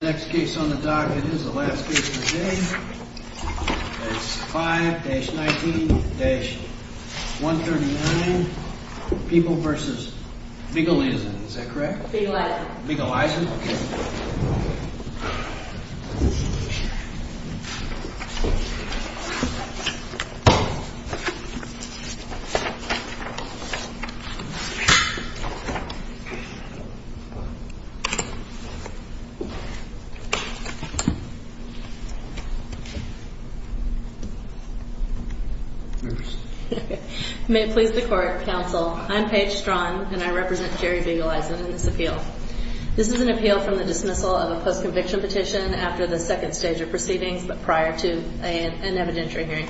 The next case on the docket is the last case of the day, that's 5-19-139, People v. Biegeleisen, is that correct? Biegeleisen, okay. Biegeleisen May it please the court, counsel, I'm Paige Strachan and I represent Jerry Biegeleisen in this appeal. This is an appeal from the dismissal of a post-conviction petition after the second stage of proceedings but prior to an evidentiary hearing.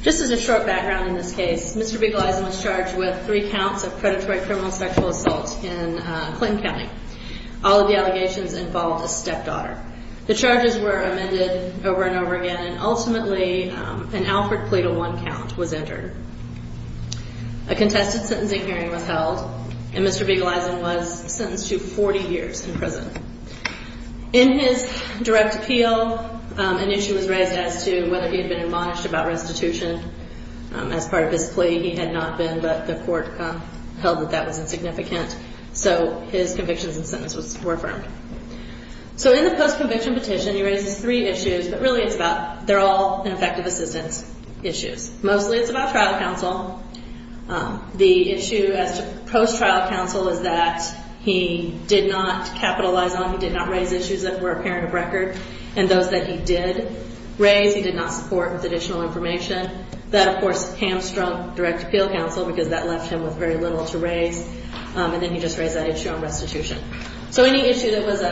Just as a short background in this case, Mr. Biegeleisen was charged with three counts of predatory criminal sexual assault in Clinton County. All of the allegations involved a stepdaughter. The charges were amended over and over again and ultimately an Alfred plea to one count was entered. A contested sentencing hearing was held and Mr. Biegeleisen was sentenced to 40 years in prison. In his direct appeal, an issue was raised as to whether he had been admonished about restitution as part of his plea. He had not been but the court held that that was insignificant so his convictions and sentence were affirmed. So in the post-conviction petition, he raises three issues but really it's about, they're all ineffective assistance issues. Mostly it's about trial counsel. The issue as to post-trial counsel is that he did not capitalize on, he did not raise issues that were apparent of record. And those that he did raise, he did not support with additional information. That of course hamstrung direct appeal counsel because that left him with very little to raise and then he just raised that issue on restitution. So any issue that was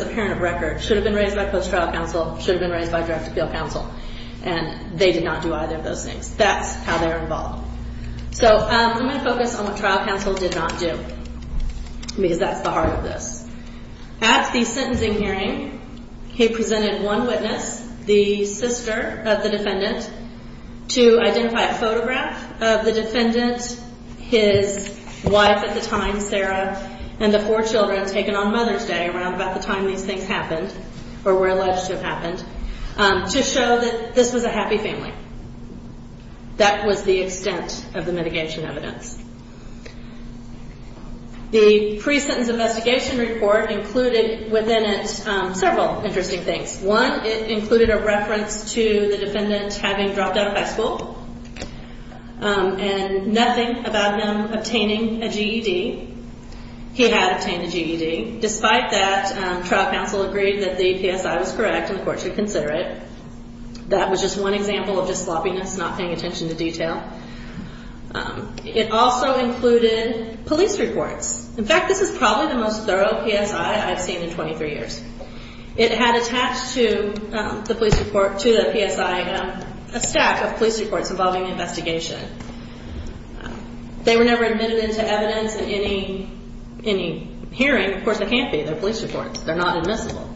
apparent of record should have been raised by post-trial counsel, should have been raised by direct appeal counsel. And they did not do either of those things. That's how they're involved. So I'm going to focus on what trial counsel did not do because that's the heart of this. At the sentencing hearing, he presented one witness, the sister of the defendant, to identify a photograph of the defendant, his wife at the time, Sarah, and the four children taken on Mother's Day around about the time these things happened or were alleged to have happened, to show that this was a happy family. That was the extent of the mitigation evidence. The pre-sentence investigation report included within it several interesting things. One, it included a reference to the defendant having dropped out of high school and nothing about him obtaining a GED. He had obtained a GED. Despite that, trial counsel agreed that the PSI was correct and the court should consider it. That was just one example of just sloppiness, not paying attention to detail. It also included police reports. In fact, this is probably the most thorough PSI I've seen in 23 years. It had attached to the PSI a stack of police reports involving the investigation. They were never admitted into evidence in any hearing. Of course, they can't be. They're police reports. They're not admissible.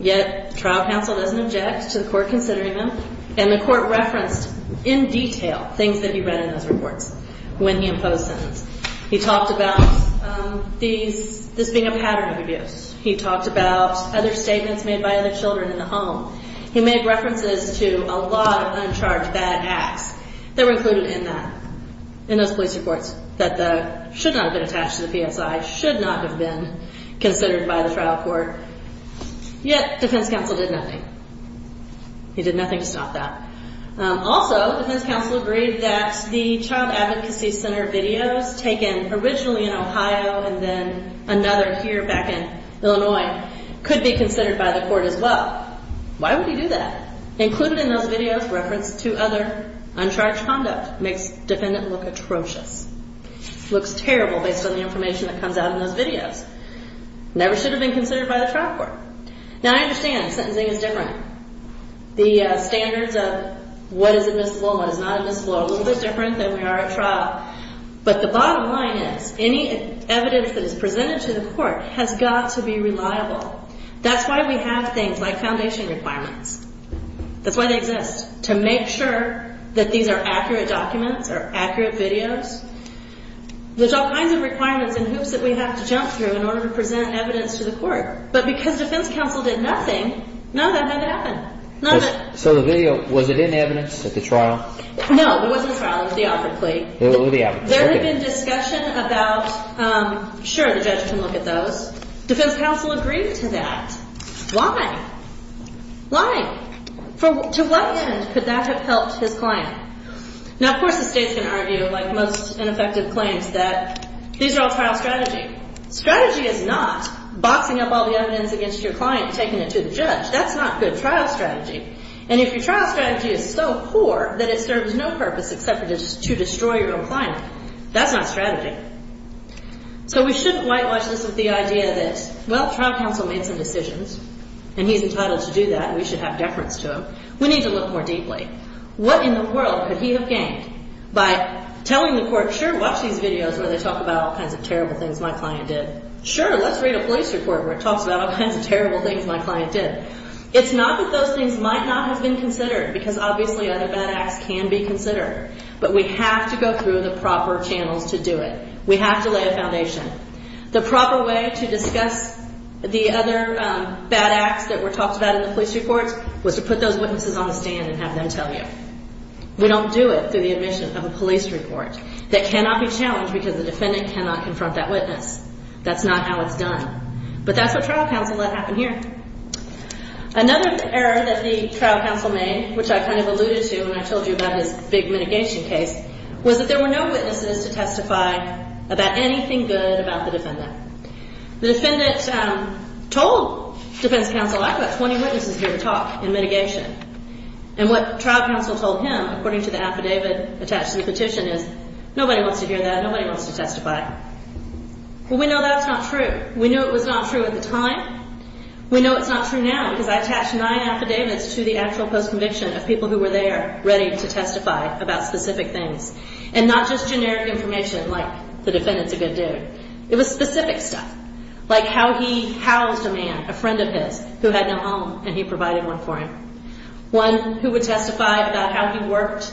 Yet, trial counsel doesn't object to the court considering them, and the court referenced in detail things that he read in those reports when he imposed sentence. He talked about this being a pattern of abuse. He talked about other statements made by other children in the home. He made references to a lot of uncharged bad acts that were included in that, in those police reports, that should not have been attached to the PSI, should not have been considered by the trial court. Yet, defense counsel did nothing. He did nothing to stop that. Also, defense counsel agreed that the child advocacy center videos taken originally in Ohio and then another here back in Illinois could be considered by the court as well. Why would he do that? Included in those videos referenced two other uncharged conduct makes defendant look atrocious. Looks terrible based on the information that comes out in those videos. Never should have been considered by the trial court. Now, I understand sentencing is different. The standards of what is admissible and what is not admissible are a little bit different than we are at trial. But the bottom line is any evidence that is presented to the court has got to be reliable. That's why we have things like foundation requirements. That's why they exist, to make sure that these are accurate documents or accurate videos. There's all kinds of requirements and hoops that we have to jump through in order to present evidence to the court. But because defense counsel did nothing, none of that had to happen. So the video, was it in evidence at the trial? No, it wasn't trial. It was the offered plea. There had been discussion about, sure, the judge can look at those. Defense counsel agreed to that. Why? Why? To what end could that have helped his client? Now, of course, the state's going to argue, like most ineffective claims, that these are all trial strategy. Strategy is not boxing up all the evidence against your client and taking it to the judge. That's not good trial strategy. And if your trial strategy is so poor that it serves no purpose except to destroy your own client, that's not strategy. So we shouldn't whitewash this with the idea that, well, trial counsel made some decisions and he's entitled to do that. And we should have deference to him. We need to look more deeply. What in the world could he have gained by telling the court, sure, watch these videos where they talk about all kinds of terrible things my client did. Sure, let's read a police report where it talks about all kinds of terrible things my client did. It's not that those things might not have been considered, because obviously other bad acts can be considered. But we have to go through the proper channels to do it. We have to lay a foundation. The proper way to discuss the other bad acts that were talked about in the police reports was to put those witnesses on the stand and have them tell you. We don't do it through the admission of a police report. That cannot be challenged because the defendant cannot confront that witness. That's not how it's done. But that's what trial counsel let happen here. Another error that the trial counsel made, which I kind of alluded to when I told you about his big mitigation case, was that there were no witnesses to testify about anything good about the defendant. The defendant told defense counsel, I've got 20 witnesses here to talk in mitigation. And what trial counsel told him, according to the affidavit attached to the petition, is nobody wants to hear that. Nobody wants to testify. Well, we know that's not true. We knew it was not true at the time. We know it's not true now because I attached nine affidavits to the actual post-conviction of people who were there ready to testify about specific things. And not just generic information like the defendant's a good dude. It was specific stuff. Like how he housed a man, a friend of his, who had no home and he provided one for him. One who would testify about how he worked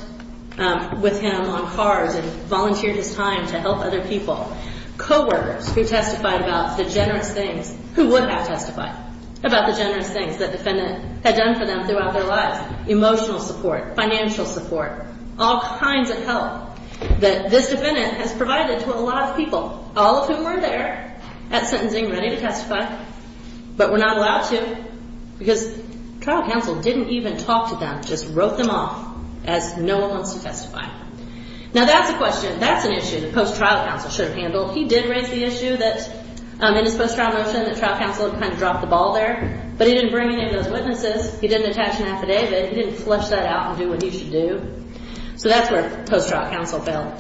with him on cars and volunteered his time to help other people. Coworkers who testified about the generous things, who would have testified about the generous things the defendant had done for them throughout their lives. Emotional support, financial support, all kinds of help that this defendant has provided to a lot of people. All of whom were there at sentencing ready to testify, but were not allowed to because trial counsel didn't even talk to them. Just wrote them off as no one wants to testify. Now that's a question, that's an issue that post-trial counsel should have handled. He did raise the issue that in his post-trial motion that trial counsel had kind of dropped the ball there. But he didn't bring any of those witnesses. He didn't attach an affidavit. He didn't flush that out and do what he should do. So that's where post-trial counsel fell.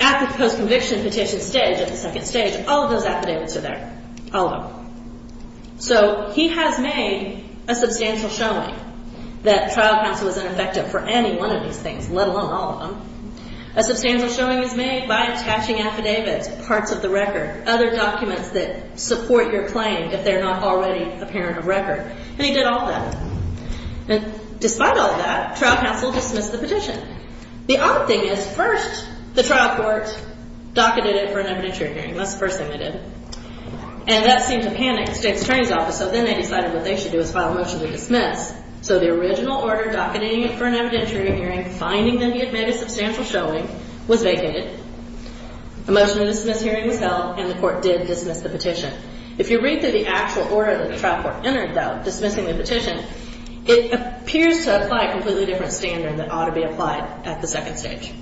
At the post-conviction petition stage, at the second stage, all of those affidavits are there. All of them. So he has made a substantial showing that trial counsel is ineffective for any one of these things, let alone all of them. A substantial showing is made by attaching affidavits, parts of the record, other documents that support your claim if they're not already apparent of record. And he did all of that. And despite all of that, trial counsel dismissed the petition. The odd thing is, first, the trial court docketed it for an evidentiary hearing. That's the first thing they did. And that seemed to panic the state's attorney's office, so then they decided what they should do is file a motion to dismiss. So the original order docketing it for an evidentiary hearing, finding that he had made a substantial showing, was vacated. A motion to dismiss hearing was held, and the court did dismiss the petition. If you read through the actual order that the trial court entered, though, dismissing the petition, it appears to apply a completely different standard that ought to be applied at the second stage.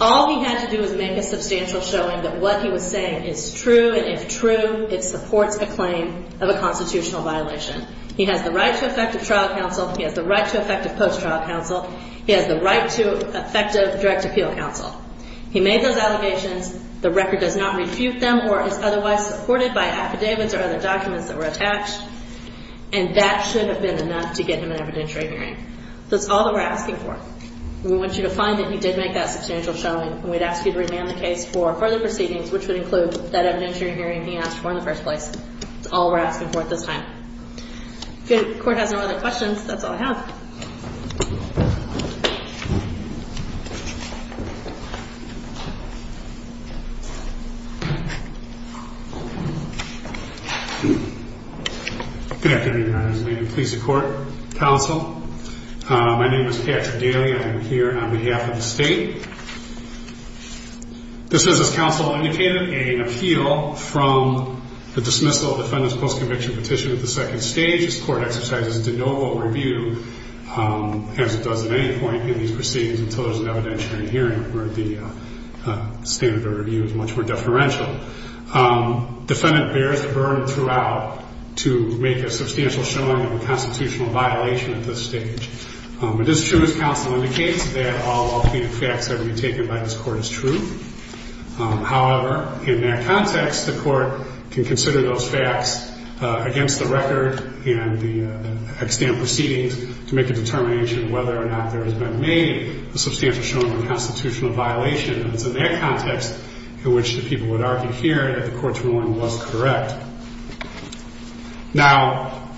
All he had to do was make a substantial showing that what he was saying is true, and if true, it supports a claim of a constitutional violation. He has the right to effective trial counsel. He has the right to effective post-trial counsel. He has the right to effective direct appeal counsel. He made those allegations. The record does not refute them or is otherwise supported by affidavits or other documents that were attached, and that should have been enough to get him an evidentiary hearing. That's all that we're asking for. We want you to find that he did make that substantial showing, and we'd ask you to remand the case for further proceedings, which would include that evidentiary hearing he asked for in the first place. That's all we're asking for at this time. If the court has no other questions, that's all I have. Thank you. Good afternoon, Your Honor. As amended, please support counsel. My name is Patrick Daly. I am here on behalf of the state. This is, as counsel indicated, an appeal from the dismissal of the defendant's post-conviction petition at the second stage. This court exercises de novo review, as it does at any point in these proceedings, until there's an evidentiary hearing where the standard of review is much more deferential. Defendant bears the burden throughout to make a substantial showing of a constitutional violation at this stage. It is true, as counsel indicates, that all authentic facts that have been taken by this court is true. However, in that context, the court can consider those facts against the record and the extant proceedings to make a determination of whether or not there has been made a substantial showing of a constitutional violation. And it's in that context in which the people would argue here that the court's ruling was correct. Now,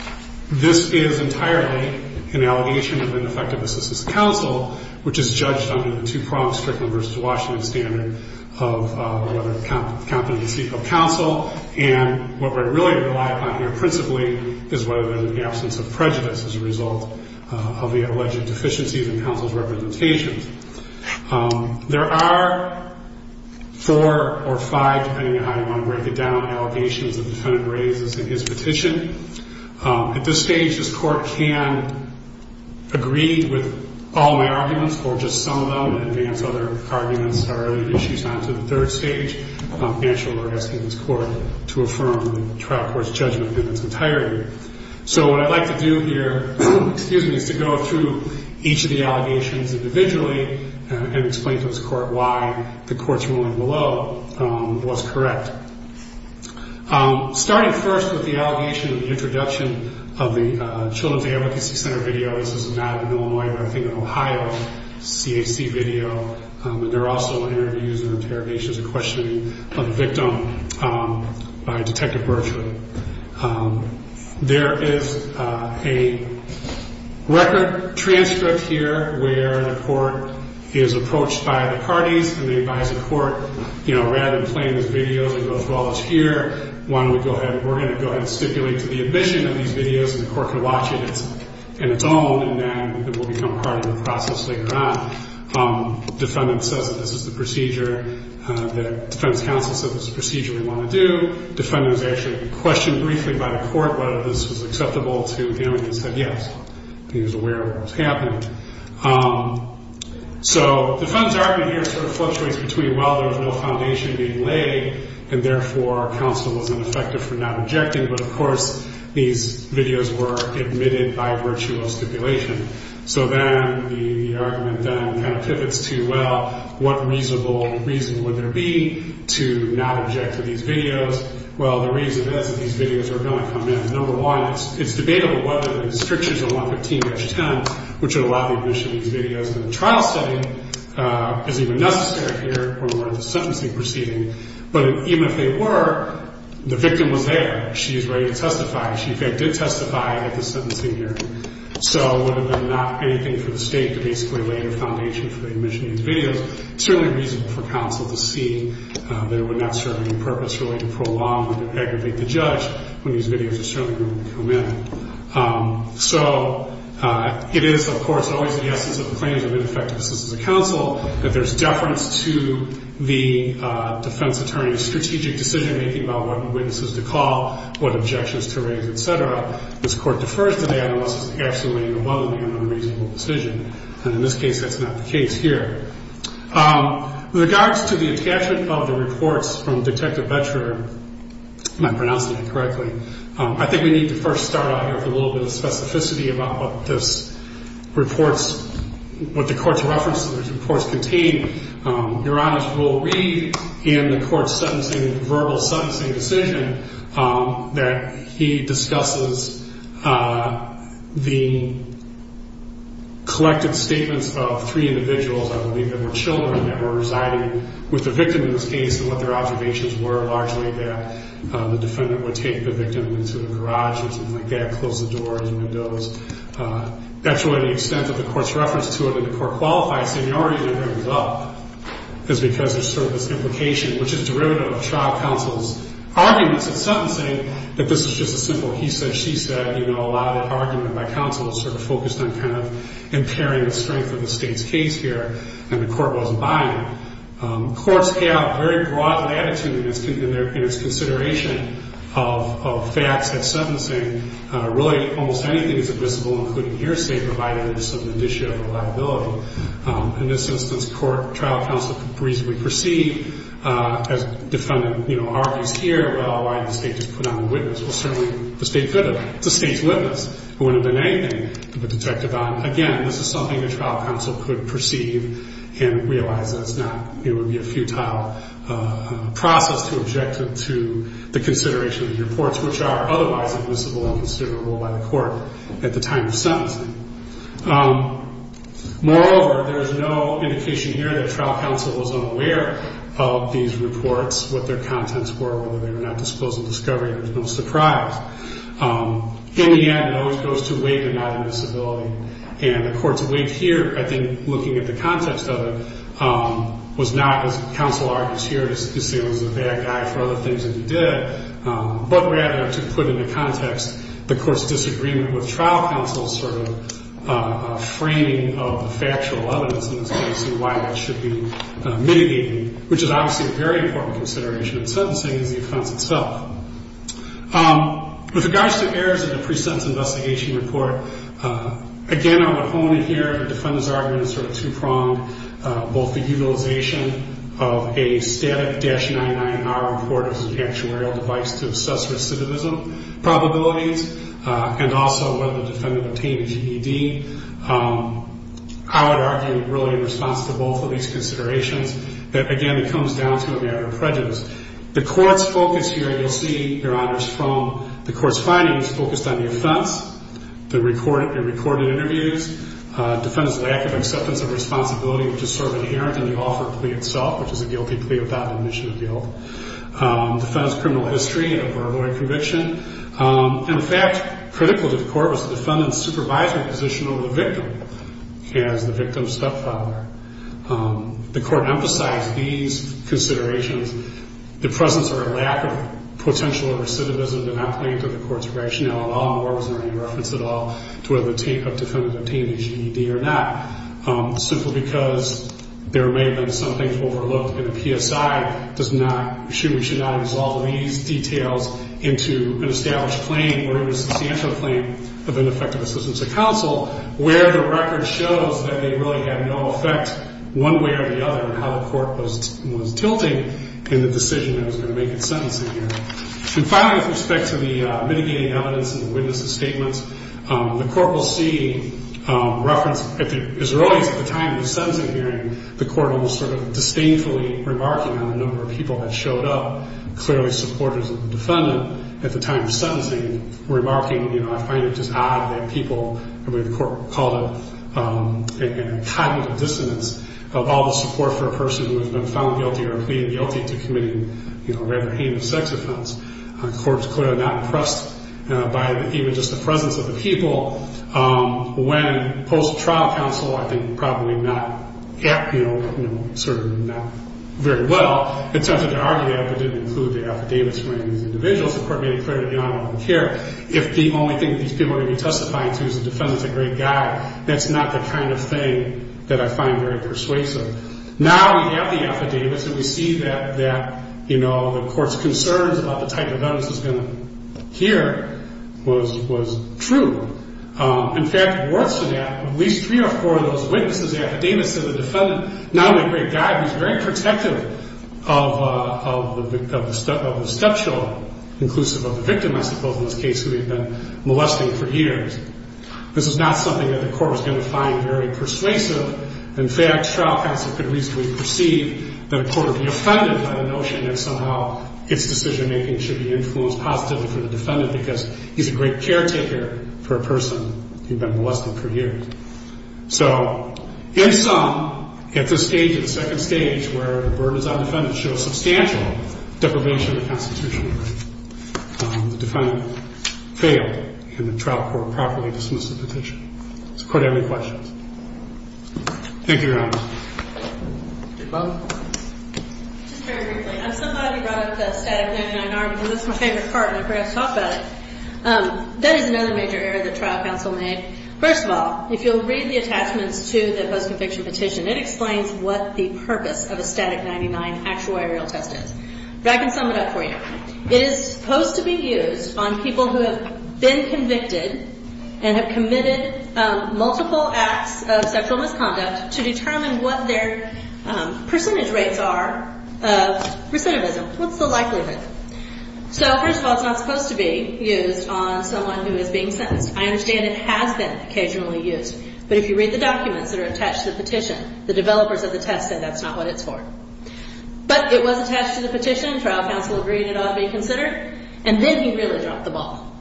this is entirely an allegation of ineffective assistance to counsel, which is judged under the two-pronged Strickland v. Washington standard of whether competency of counsel. And what we're really relying upon here principally is whether there's an absence of prejudice as a result of the alleged deficiencies in counsel's representations. There are four or five, depending on how you want to break it down, allegations that the defendant raises in his petition. At this stage, this court can agree with all my arguments, or just some of them, and advance other arguments or other issues on to the third stage, after arresting this court to affirm the trial court's judgment in its entirety. So what I'd like to do here, excuse me, is to go through each of the allegations individually and explain to this court why the court's ruling below was correct. Starting first with the allegation of the introduction of the Children's Advocacy Center video. This is not an Illinois, but I think an Ohio CAC video. And there are also interviews and interrogations and questioning of the victim by Detective Bertram. There is a record transcript here where the court is approached by the parties, and they advise the court, you know, rather than playing these videos and go through all this here, why don't we go ahead, we're going to go ahead and stipulate to the admission of these videos, and the court can watch it in its own, and then it will become part of the process later on. The defendant says that this is the procedure, the defendant's counsel says this is the procedure we want to do. The defendant was actually questioned briefly by the court whether this was acceptable to him, and he said yes. He was aware of what was happening. So the defendant's argument here sort of fluctuates between, well, there was no foundation being laid, and therefore counsel was ineffective for not objecting, but of course these videos were admitted by virtue of stipulation. So then the argument then kind of pivots to, well, what reasonable reason would there be to not object to these videos? Well, the reason is that these videos are going to come in. Number one, it's debatable whether the restrictions of 115-10, which would allow the admission of these videos in a trial setting, is even necessary here when we're in the sentencing proceeding. But even if they were, the victim was there. She is ready to testify. She did testify at the sentencing hearing. So would it have been not anything for the State to basically lay the foundation for the admission of these videos? It's certainly reasonable for counsel to see that it would not serve any purpose really to prolong or to aggravate the judge when these videos are certainly going to come in. So it is, of course, always the essence of the claims of ineffectiveness as a counsel that there's deference to the defense attorney's strategic decision-making about what witnesses to call, what objections to raise, et cetera. This Court defers to that unless it's absolutely or willingly an unreasonable decision. And in this case, that's not the case here. With regards to the attachment of the reports from Detective Boettcher, if I'm pronouncing that correctly, I think we need to first start out here with a little bit of specificity about what this reports, what the Court's reference to these reports contain. Your Honor's rule read in the Court's verbal sentencing decision that he discusses the collected statements of three individuals. I believe they were children that were residing with the victim in this case and what their observations were, largely that the defendant would take the victim into the garage or something like that, close the doors, windows. That's really the extent of the Court's reference to it. And the Court qualifies seniority to bring this up is because there's sort of this implication, which is derivative of trial counsel's arguments in sentencing, that this is just a simple he said, she said. A lot of the argument by counsel is sort of focused on kind of impairing the strength of the State's case here, and the Court wasn't buying it. Courts have very broad latitude in its consideration of facts and sentencing. Really, almost anything is admissible, including hearsay, provided there's some indicia of reliability. In this instance, trial counsel reasonably perceived, as defendant argues here, well, why didn't the State just put on the witness? Well, certainly the State could have. It's the State's witness. It wouldn't have been anything to put detective on. Again, this is something that trial counsel could perceive and realize that it's not, it would be a futile process to object to the consideration of the reports, which are otherwise admissible and considerable by the Court at the time of sentencing. Moreover, there's no indication here that trial counsel was unaware of these reports, what their contents were, whether they were not disclosed in discovery. There's no surprise. In the end, it always goes to weight and not invisibility. And the Court's weight here, I think, looking at the context of it, was not, as counsel argues here, to say it was a bad guy for other things that he did, but rather to put into context the Court's disagreement with trial counsel's sort of framing of the factual evidence in this case and why that should be mitigated, which is obviously a very important consideration in sentencing as the offense itself. With regards to errors in the pre-sentence investigation report, again, I would hone in here. The defendant's argument is sort of two-pronged. Both the utilization of a static-99R report as an actuarial device to assess recidivism probabilities and also whether the defendant obtained a GED, I would argue really in response to both of these considerations, that, again, it comes down to a matter of prejudice. The Court's focus here, you'll see, Your Honors, from the Court's findings focused on the offense, the recorded interviews, the defendant's lack of acceptance of responsibility, which is sort of inherent in the offer plea itself, which is a guilty plea without admission of guilt, the defendant's criminal history, a verbal conviction. In fact, critical to the Court was the defendant's supervisory position over the victim as the victim's stepfather. The Court emphasized these considerations. The presence or lack of potential recidivism did not play into the Court's rationale at all nor was there any reference at all to whether the defendant obtained a GED or not, simply because there may have been some things overlooked, and the PSI does not, should or should not have resolved these details into an established claim or even a substantial claim of ineffective assistance to counsel, where the record shows that it really had no effect one way or the other in how the Court was tilting in the decision that was going to make its sentencing here. And finally, with respect to the mitigating evidence and the witnesses' statements, the Court will see reference, as early as at the time of the sentencing hearing, the Court almost sort of disdainfully remarking on the number of people that showed up, and remarking, you know, I find it just odd that people, and the Court called it a cognitive dissonance of all the support for a person who has been found guilty or pleaded guilty to committing, you know, a rather heinous sex offense, a corpse clearly not impressed by even just the presence of the people, when post-trial counsel, I think probably not, you know, sort of not very well, attempted to argue that but didn't include the affidavits from any of these individuals. Of course, the Court made it clear that they don't care. If the only thing that these people are going to be testifying to is the defendant's a great guy, that's not the kind of thing that I find very persuasive. Now we have the affidavits, and we see that, you know, the Court's concerns about the type of evidence it's going to hear was true. In fact, it works for that. At least three or four of those witnesses' affidavits said the defendant, not only a great guy, he's very protective of the stepchild, inclusive of the victim, I suppose, in this case, who he had been molesting for years. This is not something that the Court was going to find very persuasive. In fact, trial counsel could reasonably perceive that a court would be offended by the notion that somehow its decision-making should be influenced positively for the defendant because he's a great caretaker for a person he'd been molesting for years. So in sum, at this stage, at the second stage, where the burden is on the defendant, shows substantial deprivation of the constitutional right. The defendant failed, and the trial court properly dismissed the petition. Does the Court have any questions? Thank you, Your Honor. Mr. Clough? Just very briefly. I'm so glad you brought up the static 99-R, because that's my favorite part, and I forgot to talk about it. That is another major error that trial counsel made. First of all, if you'll read the attachments to the post-conviction petition, it explains what the purpose of a static 99 actual aerial test is. But I can sum it up for you. It is supposed to be used on people who have been convicted and have committed multiple acts of sexual misconduct to determine what their percentage rates are of recidivism. What's the likelihood? So first of all, it's not supposed to be used on someone who is being sentenced. I understand it has been occasionally used. But if you read the documents that are attached to the petition, the developers of the test said that's not what it's for. But it was attached to the petition. Trial counsel agreed it ought to be considered. And then he really dropped the ball.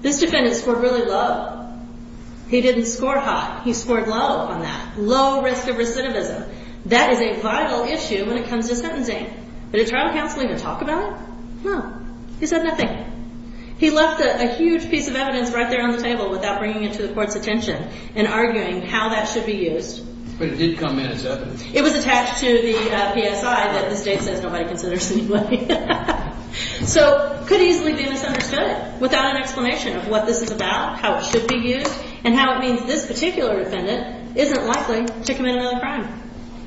This defendant scored really low. He didn't score high. He scored low on that, low risk of recidivism. That is a vital issue when it comes to sentencing. Did trial counsel even talk about it? No. He said nothing. He left a huge piece of evidence right there on the table without bringing it to the court's attention and arguing how that should be used. But it did come in as evidence. It was attached to the PSI that the state says nobody considers anyway. So it could easily be misunderstood without an explanation of what this is about, how it should be used, and how it means this particular defendant isn't likely to commit another crime.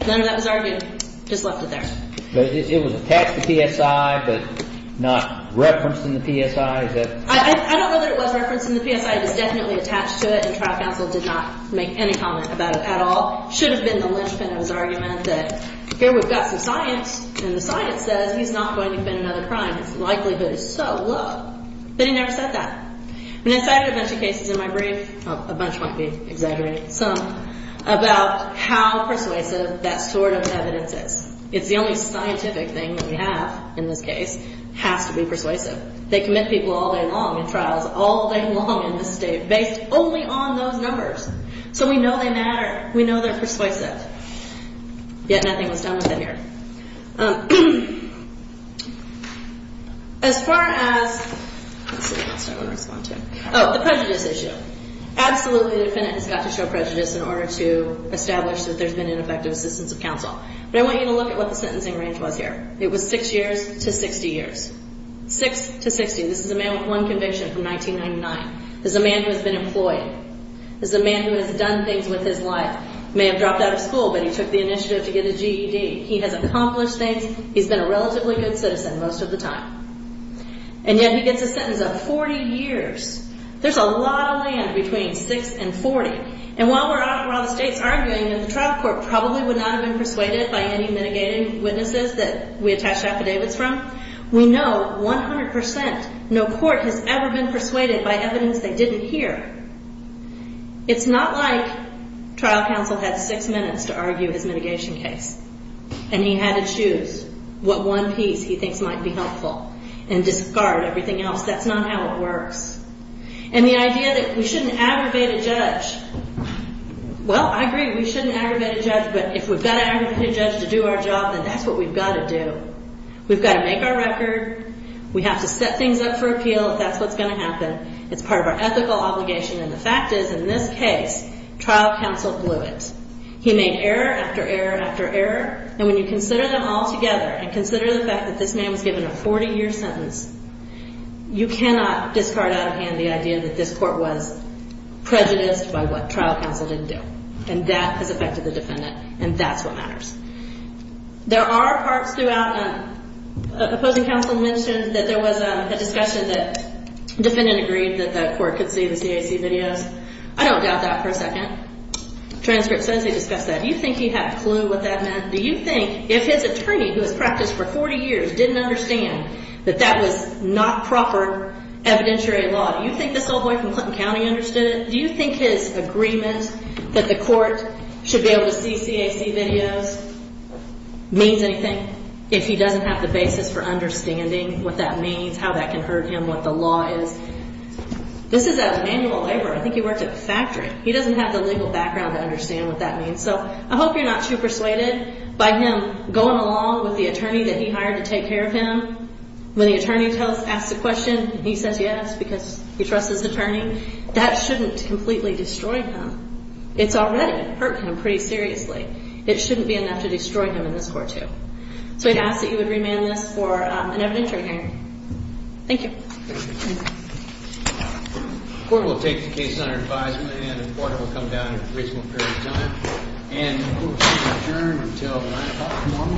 None of that was argued. Just left it there. It was attached to PSI but not referenced in the PSI? I don't know that it was referenced in the PSI. It was definitely attached to it, and trial counsel did not make any comment about it at all. It should have been the linchpin of his argument that here we've got some science, and the science says he's not going to commit another crime. His likelihood is so low. But he never said that. And I cited a bunch of cases in my brief. A bunch might be exaggerating. Some about how persuasive that sort of evidence is. It's the only scientific thing that we have in this case has to be persuasive. They commit people all day long in trials, all day long in this state, based only on those numbers. So we know they matter. We know they're persuasive. Yet nothing was done with it here. As far as... Let's see what else I want to respond to. Oh, the prejudice issue. Absolutely the defendant has got to show prejudice in order to establish that there's been ineffective assistance of counsel. But I want you to look at what the sentencing range was here. It was 6 years to 60 years. 6 to 60. This is a man with one conviction from 1999. This is a man who has been employed. This is a man who has done things with his life. May have dropped out of school, but he took the initiative to get a GED. He has accomplished things. He's been a relatively good citizen most of the time. And yet he gets a sentence of 40 years. There's a lot of land between 6 and 40. And while the state's arguing that the trial court probably would not have been persuaded by any mitigating witnesses that we attach affidavits from, we know 100% no court has ever been persuaded by evidence they didn't hear. It's not like trial counsel had 6 minutes to argue his mitigation case. And he had to choose what one piece he thinks might be helpful and discard everything else. That's not how it works. And the idea that we shouldn't aggravate a judge... But if we've got to aggravate a judge to do our job, then that's what we've got to do. We've got to make our record. We have to set things up for appeal if that's what's going to happen. It's part of our ethical obligation. And the fact is, in this case, trial counsel blew it. He made error after error after error. And when you consider them all together and consider the fact that this man was given a 40-year sentence, you cannot discard out of hand the idea that this court was prejudiced by what trial counsel didn't do. And that has affected the defendant. And that's what matters. There are parts throughout... Opposing counsel mentioned that there was a discussion that defendant agreed that the court could see the CAC videos. I don't doubt that for a second. Transcript says they discussed that. Do you think he had a clue what that meant? Do you think if his attorney, who has practiced for 40 years, didn't understand that that was not proper evidentiary law, do you think this old boy from Clinton County understood it? Do you think his agreement that the court should be able to see CAC videos means anything if he doesn't have the basis for understanding what that means, how that can hurt him, what the law is? This is out of manual labor. I think he worked at the factory. He doesn't have the legal background to understand what that means. So I hope you're not too persuaded by him going along with the attorney that he hired to take care of him. When the attorney asks a question, he says yes, because he trusts his attorney. That shouldn't completely destroy him. It's already hurt him pretty seriously. It shouldn't be enough to destroy him in this court, too. So I'd ask that you would remand this for an evidentiary hearing. Thank you. The court will take the case under advisement, and the court will come down in a reasonable period of time. And the court will adjourn until 9 o'clock tomorrow morning.